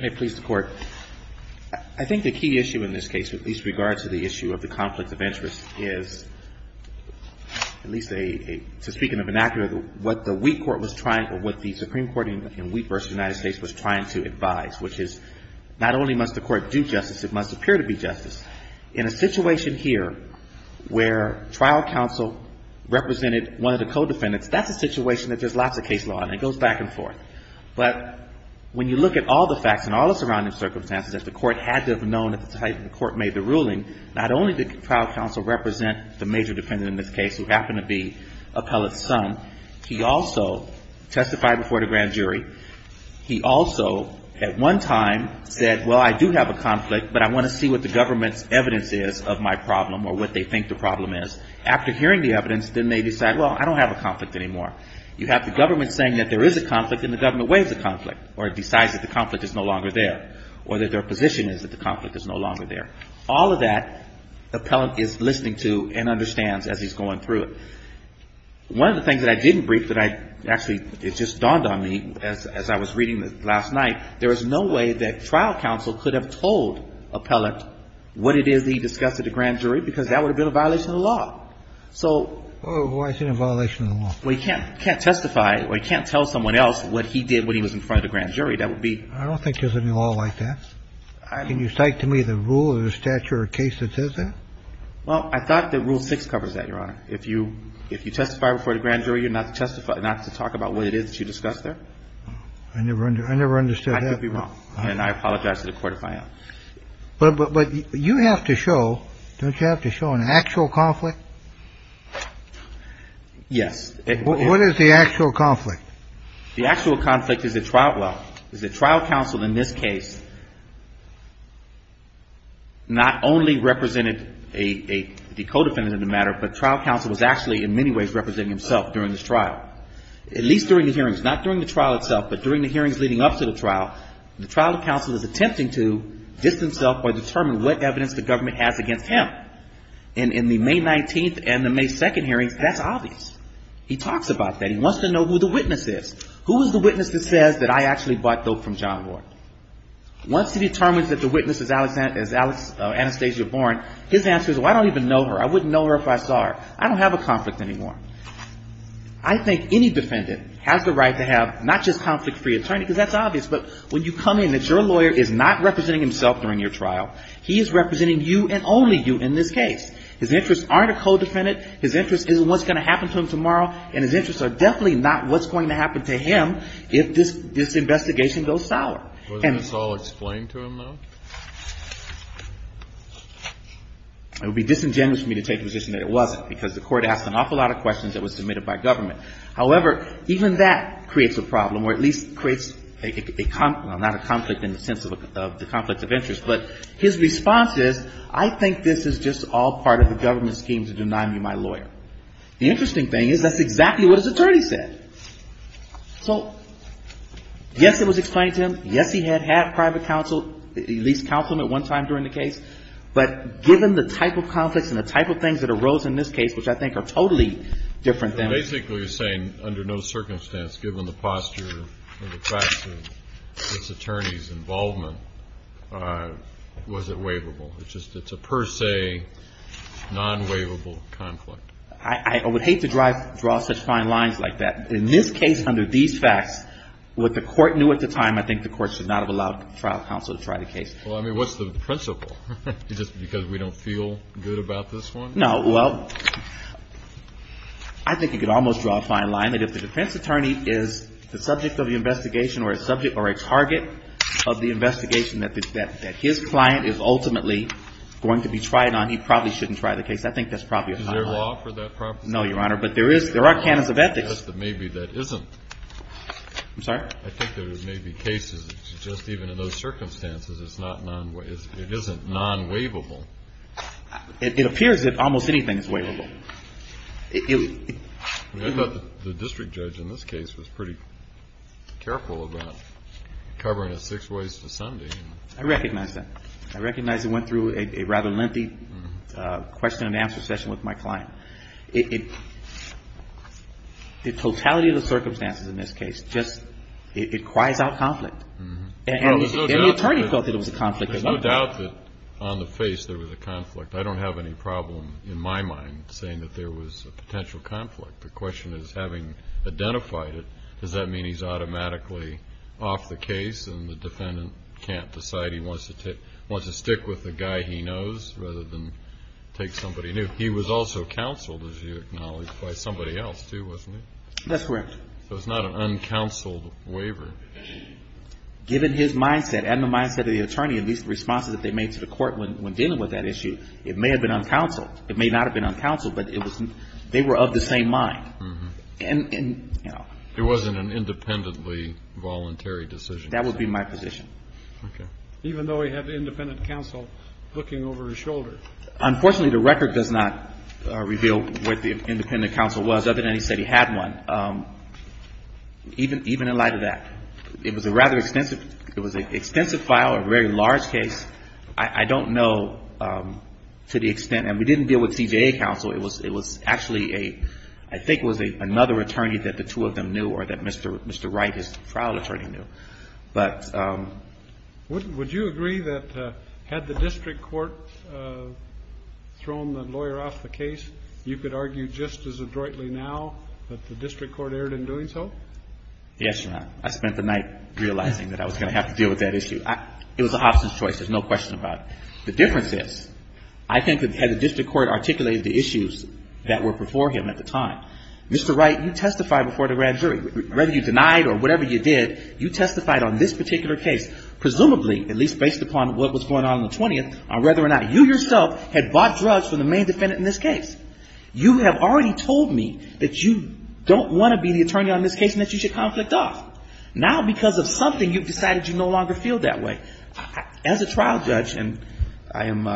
May it please the Court. I think the key issue in this case, with least regard to the issue of the conflict of interest, is, at least to speak in a vernacular, what the Wheat Court was trying, or what the Supreme Court in Wheat v. United States was trying to advise, which is not only must the Court do justice, it must appear to be justice. In a situation here where trial counsel represented one of the co-defendants, that's a situation that there's lots of case law, and it goes back and forth. But when you look at all the facts and all the surrounding circumstances that the Court had to have known at the time the Court made the ruling, not only did trial counsel represent the major defendant in this case, who happened to be Appellate's son, he also testified before the grand jury. He also, at one time, said, well, I do have a conflict, but I want to see what the government's evidence is of my problem, or what they think the problem is. After hearing the evidence, then they decide, well, I don't have a conflict anymore. You have the government saying that there is a conflict, and the government waives the conflict, or decides that the conflict is no longer there, or that their position is that the conflict is no longer there. All of that, Appellant is listening to and understands as he's going through it. One of the things that I didn't brief, that I actually, it just dawned on me as I was reading it last night, there is no way that trial counsel could have told Appellant what it is that he discussed at the grand jury, because that would have been a violation of the law. So... Well, why is it a violation of the law? Well, he can't testify, or he can't tell someone else what he did when he was in front of the grand jury. That would be... I don't think there's any law like that. Can you cite to me the rule or the statute or case that says that? Well, I thought that Rule 6 covers that, Your Honor. If you testify before the grand jury, you're not to talk about what it is that you discussed there. I never understood that. I could be wrong, and I apologize to the Court if I am. But you have to show, don't you have to show an actual conflict? Yes. What is the actual conflict? The actual conflict is the trial, well, is that trial counsel in this case not only represented a co-defendant in the matter, but trial counsel was actually in many ways representing himself during this trial, at least during the hearings. Not during the trial itself, but during the hearings leading up to the trial. The trial counsel is attempting to distance himself or determine what evidence the government has against him. And in the May 19th and the May 2nd hearings, that's obvious. He talks about that. He wants to know who the witness is. Who is the witness that says that I actually bought dope from John Ward? Once he determines that the witness is Anastasia Bourne, his answer is, well, I don't even know her. I wouldn't know her if I saw her. I don't have a conflict anymore. I think any defendant has the right to have not just conflict-free attorney, because that's obvious. But when you come in, if your lawyer is not representing himself during your trial, he is representing you and only you in this case. His interests aren't a co-defendant. His interests isn't what's going to happen to him tomorrow. And his interests are definitely not what's going to happen to him if this investigation goes sour. Wasn't this all explained to him, though? It would be disingenuous for me to take the position that it wasn't, because the Court asked an awful lot of questions that were submitted by government. However, even that creates a problem, or at least creates a conflict of interest. But his response is, I think this is just all part of the government's scheme to deny me my lawyer. The interesting thing is, that's exactly what his attorney said. So, yes, it was explained to him. Yes, he had had private counsel. He at least counseled him at one time during the case. But given the type of conflicts and the type of things that arose in this case, which I think are totally different than... You're basically saying, under no circumstance, given the posture and the class of this attorney's involvement, was it waivable? It's a per se, non-waivable conflict. I would hate to draw such fine lines like that. In this case, under these facts, what the Court knew at the time, I think the Court should not have allowed trial counsel to try the case. Well, I mean, what's the principle? Just because we don't feel good about this one? No. Well, I think you could almost draw a fine line. If the defense attorney is the subject of the investigation or a target of the investigation that his client is ultimately going to be tried on, he probably shouldn't try the case. I think that's probably a fine line. Is there law for that proposition? No, Your Honor, but there are canons of ethics. I guess that maybe that isn't. I'm sorry? I think there may be cases just even in those circumstances, it isn't non-waivable. It appears that almost anything is waivable. I thought the district judge in this case was pretty careful about covering it six ways to Sunday. I recognize that. I recognize he went through a rather lengthy question and answer session with my client. The totality of the circumstances in this case just, it cries out conflict. And the attorney felt that it was a conflict. There's no doubt that on the face there was a conflict. I don't have any problem in my mind saying that there was a potential conflict. The question is, having identified it, does that mean he's automatically off the case and the defendant can't decide he wants to stick with the guy he knows rather than take somebody new? He was also counseled, as you acknowledge, by somebody else too, wasn't he? That's correct. So it's not an uncounseled waiver. Given his mindset and the mindset of the attorney, these responses that they made to the court when dealing with that issue, it may have been uncounseled. It may not have been uncounseled, but they were of the same mind. It wasn't an independently voluntary decision. That would be my position. Even though he had independent counsel looking over his shoulder. Unfortunately, the record does not reveal what the independent counsel was, other than he said he had one. Even in light of that, it was a rather extensive file, a very large case. I don't know to the extent, and we didn't deal with CJA counsel. It was actually a, I think it was another attorney that the two of them knew or that Mr. Wright, his trial attorney, knew. But... Would you agree that had the district court thrown the lawyer off the case, you could argue just as adroitly now that the district court erred in doing so? Yes, Your Honor. I spent the night realizing that I was going to have to deal with that issue. It was an options choice, there's no question about it. The difference is, I think that had the district court articulated the issues that were before him at the time, Mr. Wright, you testified before the grand jury. Whether you denied or whatever you did, you testified on this particular case, presumably, at least based upon what was going on in the 20th, on whether or not you yourself had bought drugs from the main defendant in this case. You have already told me that you don't want to be the attorney on this case and that you should conflict off. Now, because of something, you've decided you no longer feel that way. As a trial judge, and I am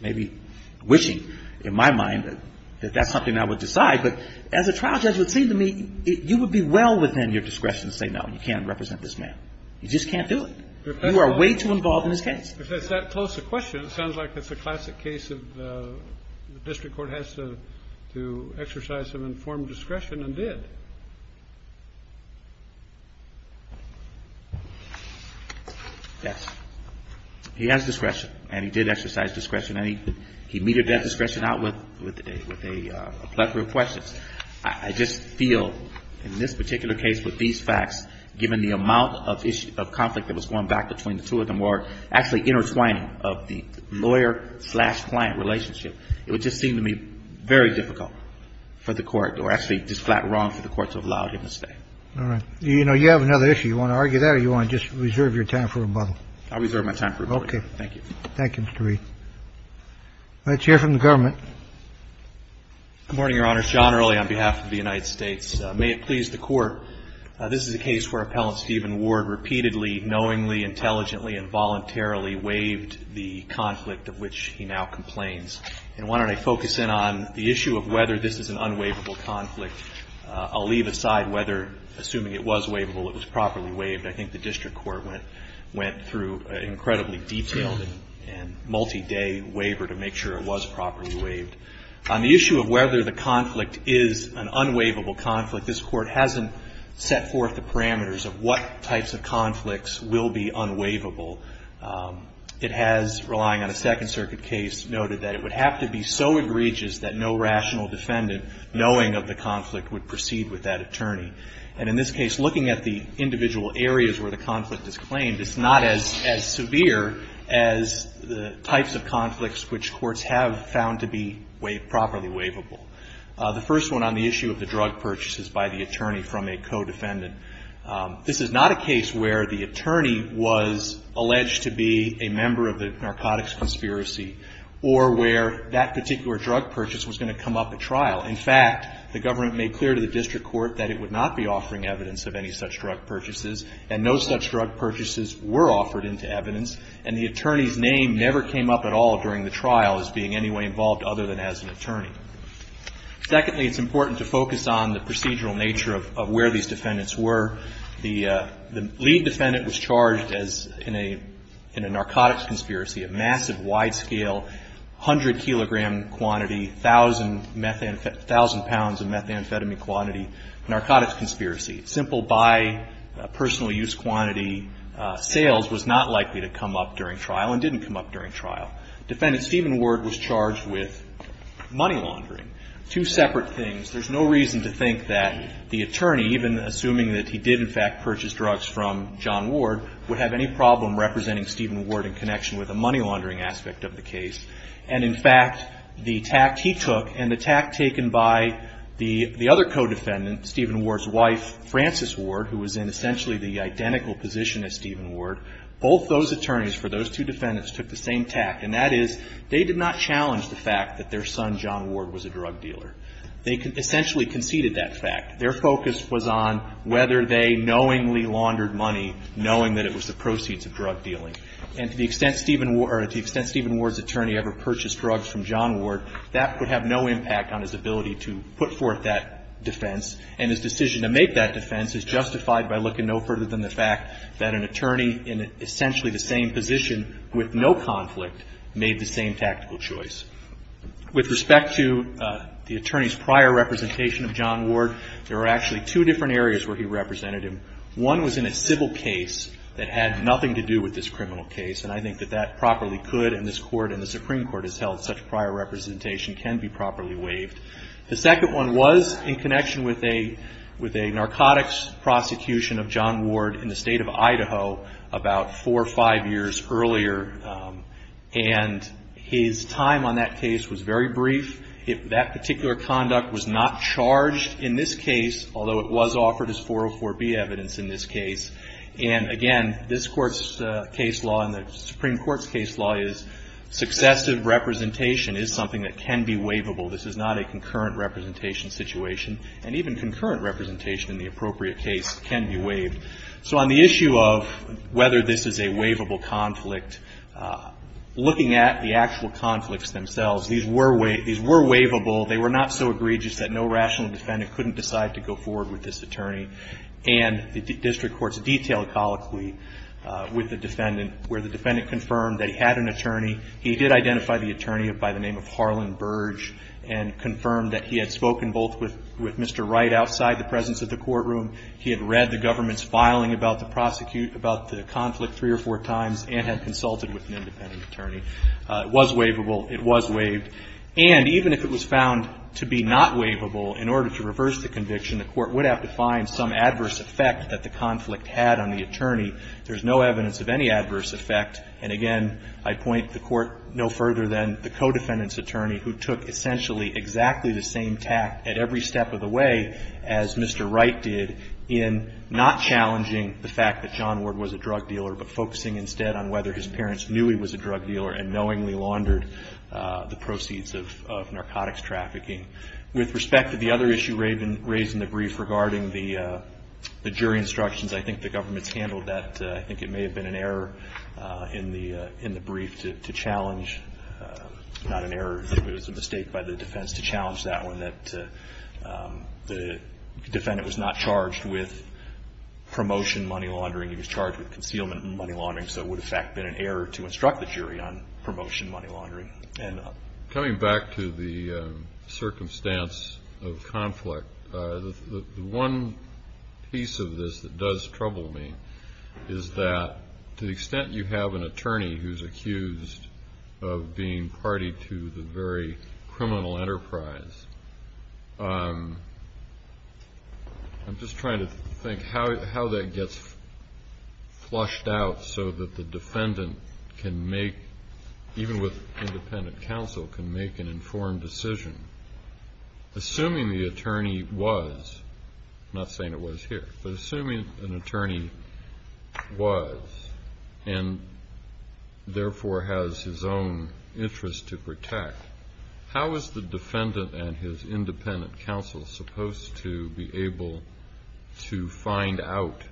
maybe wishing in my mind that that's something I would decide, but as a trial judge, it would seem to me you would be well within your discretion to say no, you can't represent this man. You just can't do it. You are way too involved in this case. If it's that close a question, it sounds like it's a classic case of the district court has to exercise some informed discretion and did. Yes. He has discretion and he did exercise discretion. He meted that discretion out with a plethora of questions. I just feel in this particular case with these facts, given the amount of conflict that was going back between the two of them, or actually the intertwining of the lawyer-client relationship, it would just seem to me very difficult for the court or actually just flat wrong for the court to have allowed him to stay. All right. You know, you have another issue. You want to argue that or you want to just reserve your time for rebuttal? I'll reserve my time for rebuttal. Okay. Thank you. Thank you, Mr. Reed. Let's hear from the government. Good morning, Your Honor. Sean Early on behalf of the United States. May it please the Court, this is a case where Appellant Stephen Ward repeatedly, knowingly, intelligently, and voluntarily waived the conflict of which he now complains. And why don't I focus in on the issue of whether this is an unwaivable conflict. I'll leave aside whether, assuming it was waivable, it was properly waived. I think the district court went through an incredibly detailed and multi-day waiver to make sure it was properly waived. On the issue of whether the conflict is an unwaivable conflict, this Court hasn't set forth the parameters of what types of conflicts will be unwaivable. It has, relying on a Second Circuit case, noted that it would have to be so egregious that no rational defendant, knowing of the conflict, would proceed with that attorney. And in this case, looking at the individual areas where the conflict is claimed, it's not as severe as the types of conflicts which courts have found to be properly waivable. The first one on the issue of the drug purchases by the attorney from a co-defendant. This is not a case where the attorney was alleged to be a member of the narcotics conspiracy or where that particular drug purchase was going to come up at trial. In fact, the government made clear to the district court that it would not be offering evidence of any such drug purchases, and no such drug purchases were offered into evidence, and the attorney's name never came up at all during the trial as being in any way involved other than as an attorney. Secondly, it's important to focus on the procedural nature of where these defendants were. The lead defendant was charged in a narcotics conspiracy, a massive, wide-scale, 100-kilogram quantity, 1,000 pounds of methamphetamine quantity narcotics conspiracy. Simple by personal use quantity sales was not likely to come up during trial and didn't come up during trial. Defendant Stephen Ward was charged with money laundering. Two separate things. There's no reason to think that the attorney, even assuming that he did in fact purchase drugs from John Ward, would have any problem representing Stephen Ward in connection with the money laundering aspect of the case. And in fact, the tact he took and the tact taken by the other co-defendant, Stephen Ward's wife, Frances Ward, who was in essentially the identical position as Stephen Ward, both those attorneys for those two defendants took the same tact. And that is they did not challenge the fact that their son, John Ward, was a drug dealer. They essentially conceded that fact. Their focus was on whether they knowingly laundered money, knowing that it was the proceeds of drug dealing. And to the extent Stephen Ward's attorney ever purchased drugs from John Ward, that would have no impact on his ability to put forth that defense. And his decision to make that defense is justified by looking no further than the fact that an attorney in essentially the same position with no conflict made the same tactical choice. With respect to the attorney's prior representation of John Ward, there are actually two different areas where he represented him. One was in a civil case that had nothing to do with this criminal case. And I think that that properly could, and this Court and the Supreme Court has held such prior representation, can be properly waived. The second one was in connection with a narcotics prosecution of John Ward in the state of Idaho about four or five years earlier. And his time on that case was very brief. That particular conduct was not charged in this case, although it was offered as 404B evidence in this case. And again, this Court's case law and the Supreme Court's case law is successive representation is something that can be waivable. This is not a concurrent representation situation. And even concurrent representation in the appropriate case can be waived. So on the issue of whether this is a waivable conflict, looking at the actual conflicts themselves, these were waivable. They were not so egregious that no rational defendant couldn't decide to go forward with this attorney. And the district courts detailed colloquially with the defendant where the defendant confirmed that he had an attorney. He did identify the attorney by the name of Harlan Burge and confirmed that he had spoken both with Mr. Wright outside the presence of the courtroom. He had read the government's filing about the prosecute, about the conflict three or four times, and had consulted with an independent attorney. It was waivable. It was waived. And even if it was found to be not waivable, in order to reverse the conviction, the Court would have to find some adverse effect that the conflict had on the attorney. There's no evidence of any adverse effect. And, again, I point the Court no further than the co-defendant's attorney, who took essentially exactly the same tact at every step of the way as Mr. Wright did in not challenging the fact that John Ward was a drug dealer, but focusing instead on whether his parents knew he was a drug dealer and knowingly laundered the proceeds of narcotics trafficking. With respect to the other issue raised in the brief regarding the jury instructions, I think the government's handled that. I think it may have been an error in the brief to challenge, not an error, it was a mistake by the defense to challenge that one, that the defendant was not charged with promotion money laundering. He was charged with concealment money laundering. So it would have, in fact, been an error to instruct the jury on promotion money laundering. Coming back to the circumstance of conflict, the one piece of this that does trouble me is that to the extent you have an attorney who's accused of being party to the very criminal enterprise, I'm just trying to think how that gets flushed out so that the defendant can make, even with independent counsel, can make an informed decision. Assuming the attorney was, I'm not saying it was here, but assuming an attorney was and therefore has his own interest to protect, how is the defendant and his independent counsel supposed to be able to find out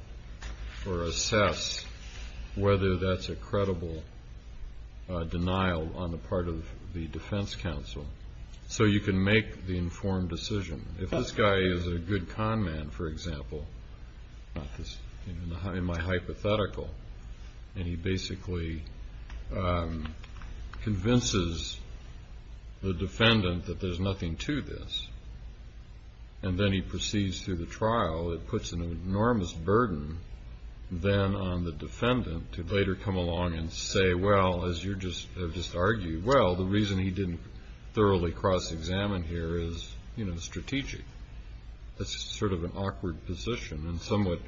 or assess whether that's a credible denial on the part of the defense counsel so you can make the informed decision? If this guy is a good con man, for example, in my hypothetical, and he basically convinces the defendant that there's nothing to this, and then he proceeds through the trial, it puts an enormous burden then on the defendant to later come along and say, well, as you have just argued, well, the reason he didn't thoroughly cross-examine here is strategic. That's sort of an awkward position and somewhat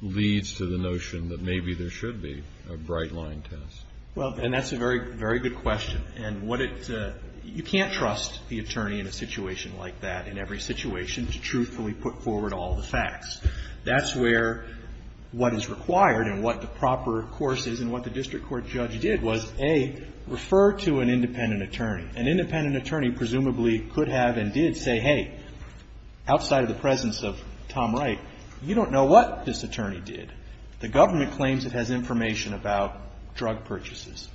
leads to the notion that maybe there should be a bright-line test. Well, and that's a very good question. And you can't trust the attorney in a situation like that, in every situation, to truthfully put forward all the facts. That's where what is required and what the proper course is and what the district court judge did was, A, refer to an independent attorney. An independent attorney presumably could have and did say, hey, outside of the presence of Tom Wright, you don't know what this attorney did. The government claims it has information about drug purchases.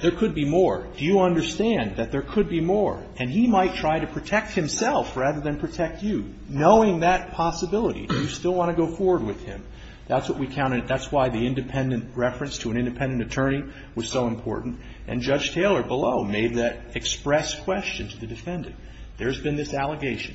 There could be more. Do you understand that there could be more? And he might try to protect himself rather than protect you, knowing that possibility. Do you still want to go forward with him? That's what we counted. That's why the independent reference to an independent attorney was so important. And Judge Taylor below made that express question to the defendant. There's been this allegation.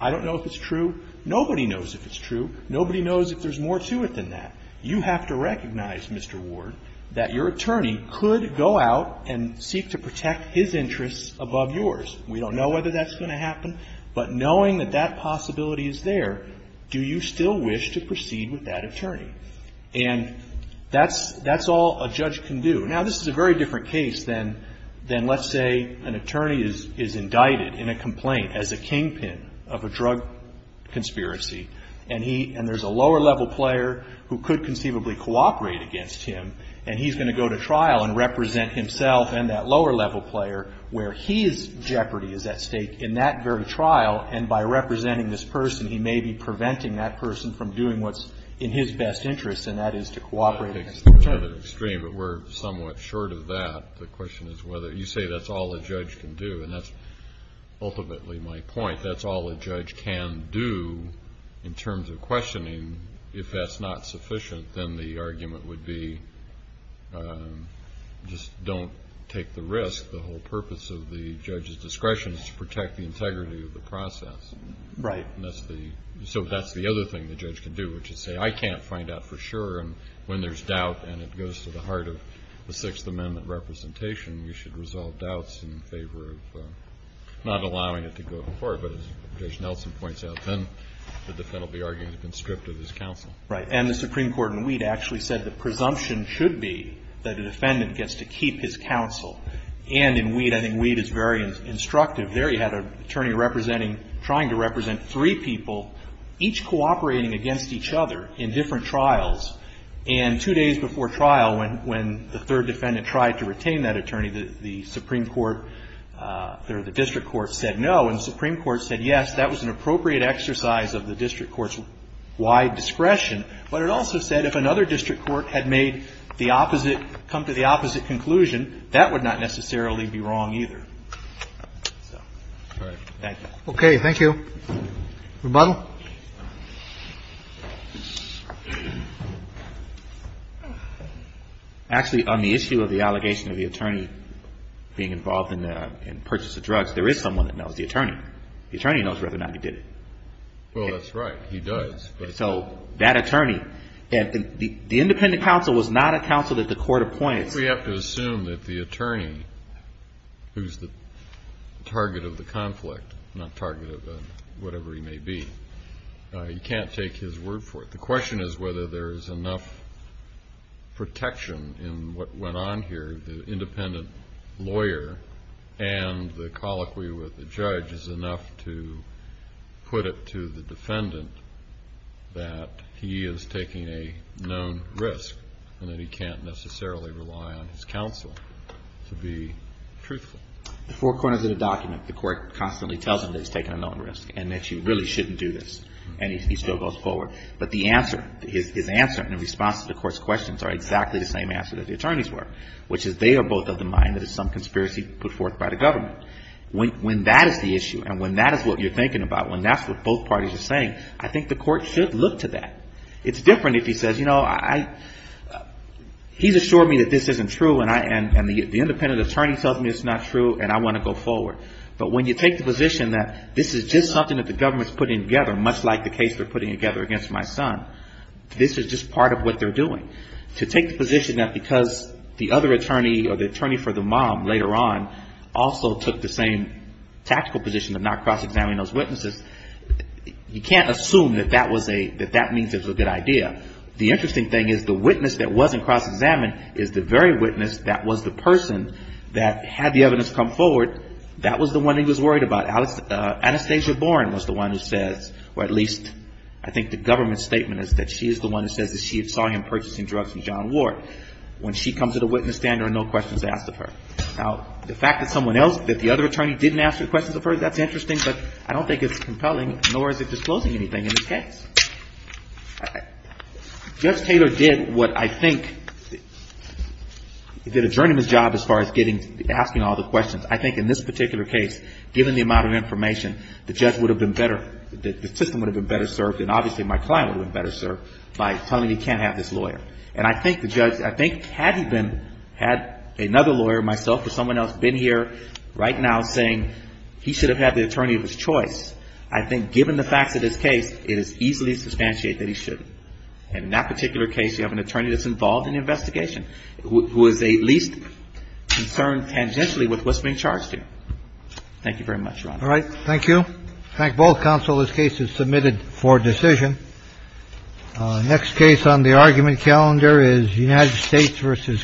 I don't know if it's true. Nobody knows if it's true. Nobody knows if there's more to it than that. You have to recognize, Mr. Ward, that your attorney could go out and seek to protect his interests above yours. We don't know whether that's going to happen. But knowing that that possibility is there, do you still wish to proceed with that attorney? And that's all a judge can do. Now, this is a very different case than let's say an attorney is indicted in a complaint as a kingpin of a drug conspiracy. And there's a lower-level player who could conceivably cooperate against him, and he's going to go to trial and represent himself and that lower-level player where his jeopardy is at stake in that very trial. And by representing this person, he may be preventing that person from doing what's in his best interest, and that is to cooperate against him. It's rather extreme, but we're somewhat short of that. The question is whether you say that's all a judge can do, and that's ultimately my point. That's all a judge can do in terms of questioning. I mean, if that's not sufficient, then the argument would be just don't take the risk. The whole purpose of the judge's discretion is to protect the integrity of the process. Right. And that's the other thing the judge can do, which is say, I can't find out for sure. And when there's doubt and it goes to the heart of the Sixth Amendment representation, you should resolve doubts in favor of not allowing it to go to court. But as Judge Nelson points out, then the defendant will be arguing he's been stripped of his counsel. Right. And the Supreme Court in Weed actually said the presumption should be that a defendant gets to keep his counsel. And in Weed, I think Weed is very instructive. There you had an attorney representing, trying to represent three people, each cooperating against each other in different trials. And two days before trial, when the third defendant tried to retain that attorney, the Supreme Court or the district court said no. And the Supreme Court said yes, that was an appropriate exercise of the district court's wide discretion. But it also said if another district court had made the opposite, come to the opposite conclusion, that would not necessarily be wrong either. So. All right. Thank you. Okay. Thank you. Rebuttal. Actually, on the issue of the allegation of the attorney being involved in the purchase of drugs, there is someone that knows, the attorney. The attorney knows whether or not he did it. Well, that's right. He does. So that attorney. The independent counsel was not a counsel that the court appointed. We have to assume that the attorney, who's the target of the conflict, not target of whatever he may be, he can't take his word for it. The question is whether there is enough protection in what went on here. The independent lawyer and the colloquy with the judge is enough to put it to the defendant that he is taking a known risk and that he can't necessarily rely on his counsel to be truthful. The forecourt is in a document. The court constantly tells him that he's taking a known risk and that you really shouldn't do this. And he still goes forward. But the answer, his answer in response to the court's questions are exactly the same answer that the attorneys were, which is they are both of the mind that it's some conspiracy put forth by the government. When that is the issue and when that is what you're thinking about, when that's what both parties are saying, I think the court should look to that. It's different if he says, you know, he's assured me that this isn't true and the independent attorney tells me it's not true and I want to go forward. But when you take the position that this is just something that the government is putting together, much like the case they're putting together against my son, this is just part of what they're doing. To take the position that because the other attorney or the attorney for the mom later on also took the same tactical position of not cross-examining those witnesses, you can't assume that that was a, that that means it was a good idea. The interesting thing is the witness that wasn't cross-examined is the very witness that was the person that had the evidence come forward, that was the one he was worried about. Anastasia Boren was the one who says, or at least I think the government's statement is that she is the one who says that she saw him purchasing drugs from John Ward. When she comes to the witness stand, there are no questions asked of her. Now, the fact that someone else, that the other attorney didn't ask her questions of her, that's interesting, but I don't think it's compelling, nor is it disclosing anything in this case. Judge Taylor did what I think, he did a journeyman's job as far as getting, asking all the questions. I think in this particular case, given the amount of information, the judge would have been better, the system would have been better served, and obviously my client would have been better served by telling me he can't have this lawyer. And I think the judge, I think had he been, had another lawyer, myself or someone else, been here right now saying he should have had the attorney of his choice, I think given the facts of this case, it is easily to substantiate that he shouldn't. And in that particular case, you have an attorney that's involved in the investigation, who is at least concerned tangentially with what's being charged here. Thank you very much, Ron. All right. Thank you. Thank both counsel. This case is submitted for decision. Next case on the argument calendar is United States v. Curtin.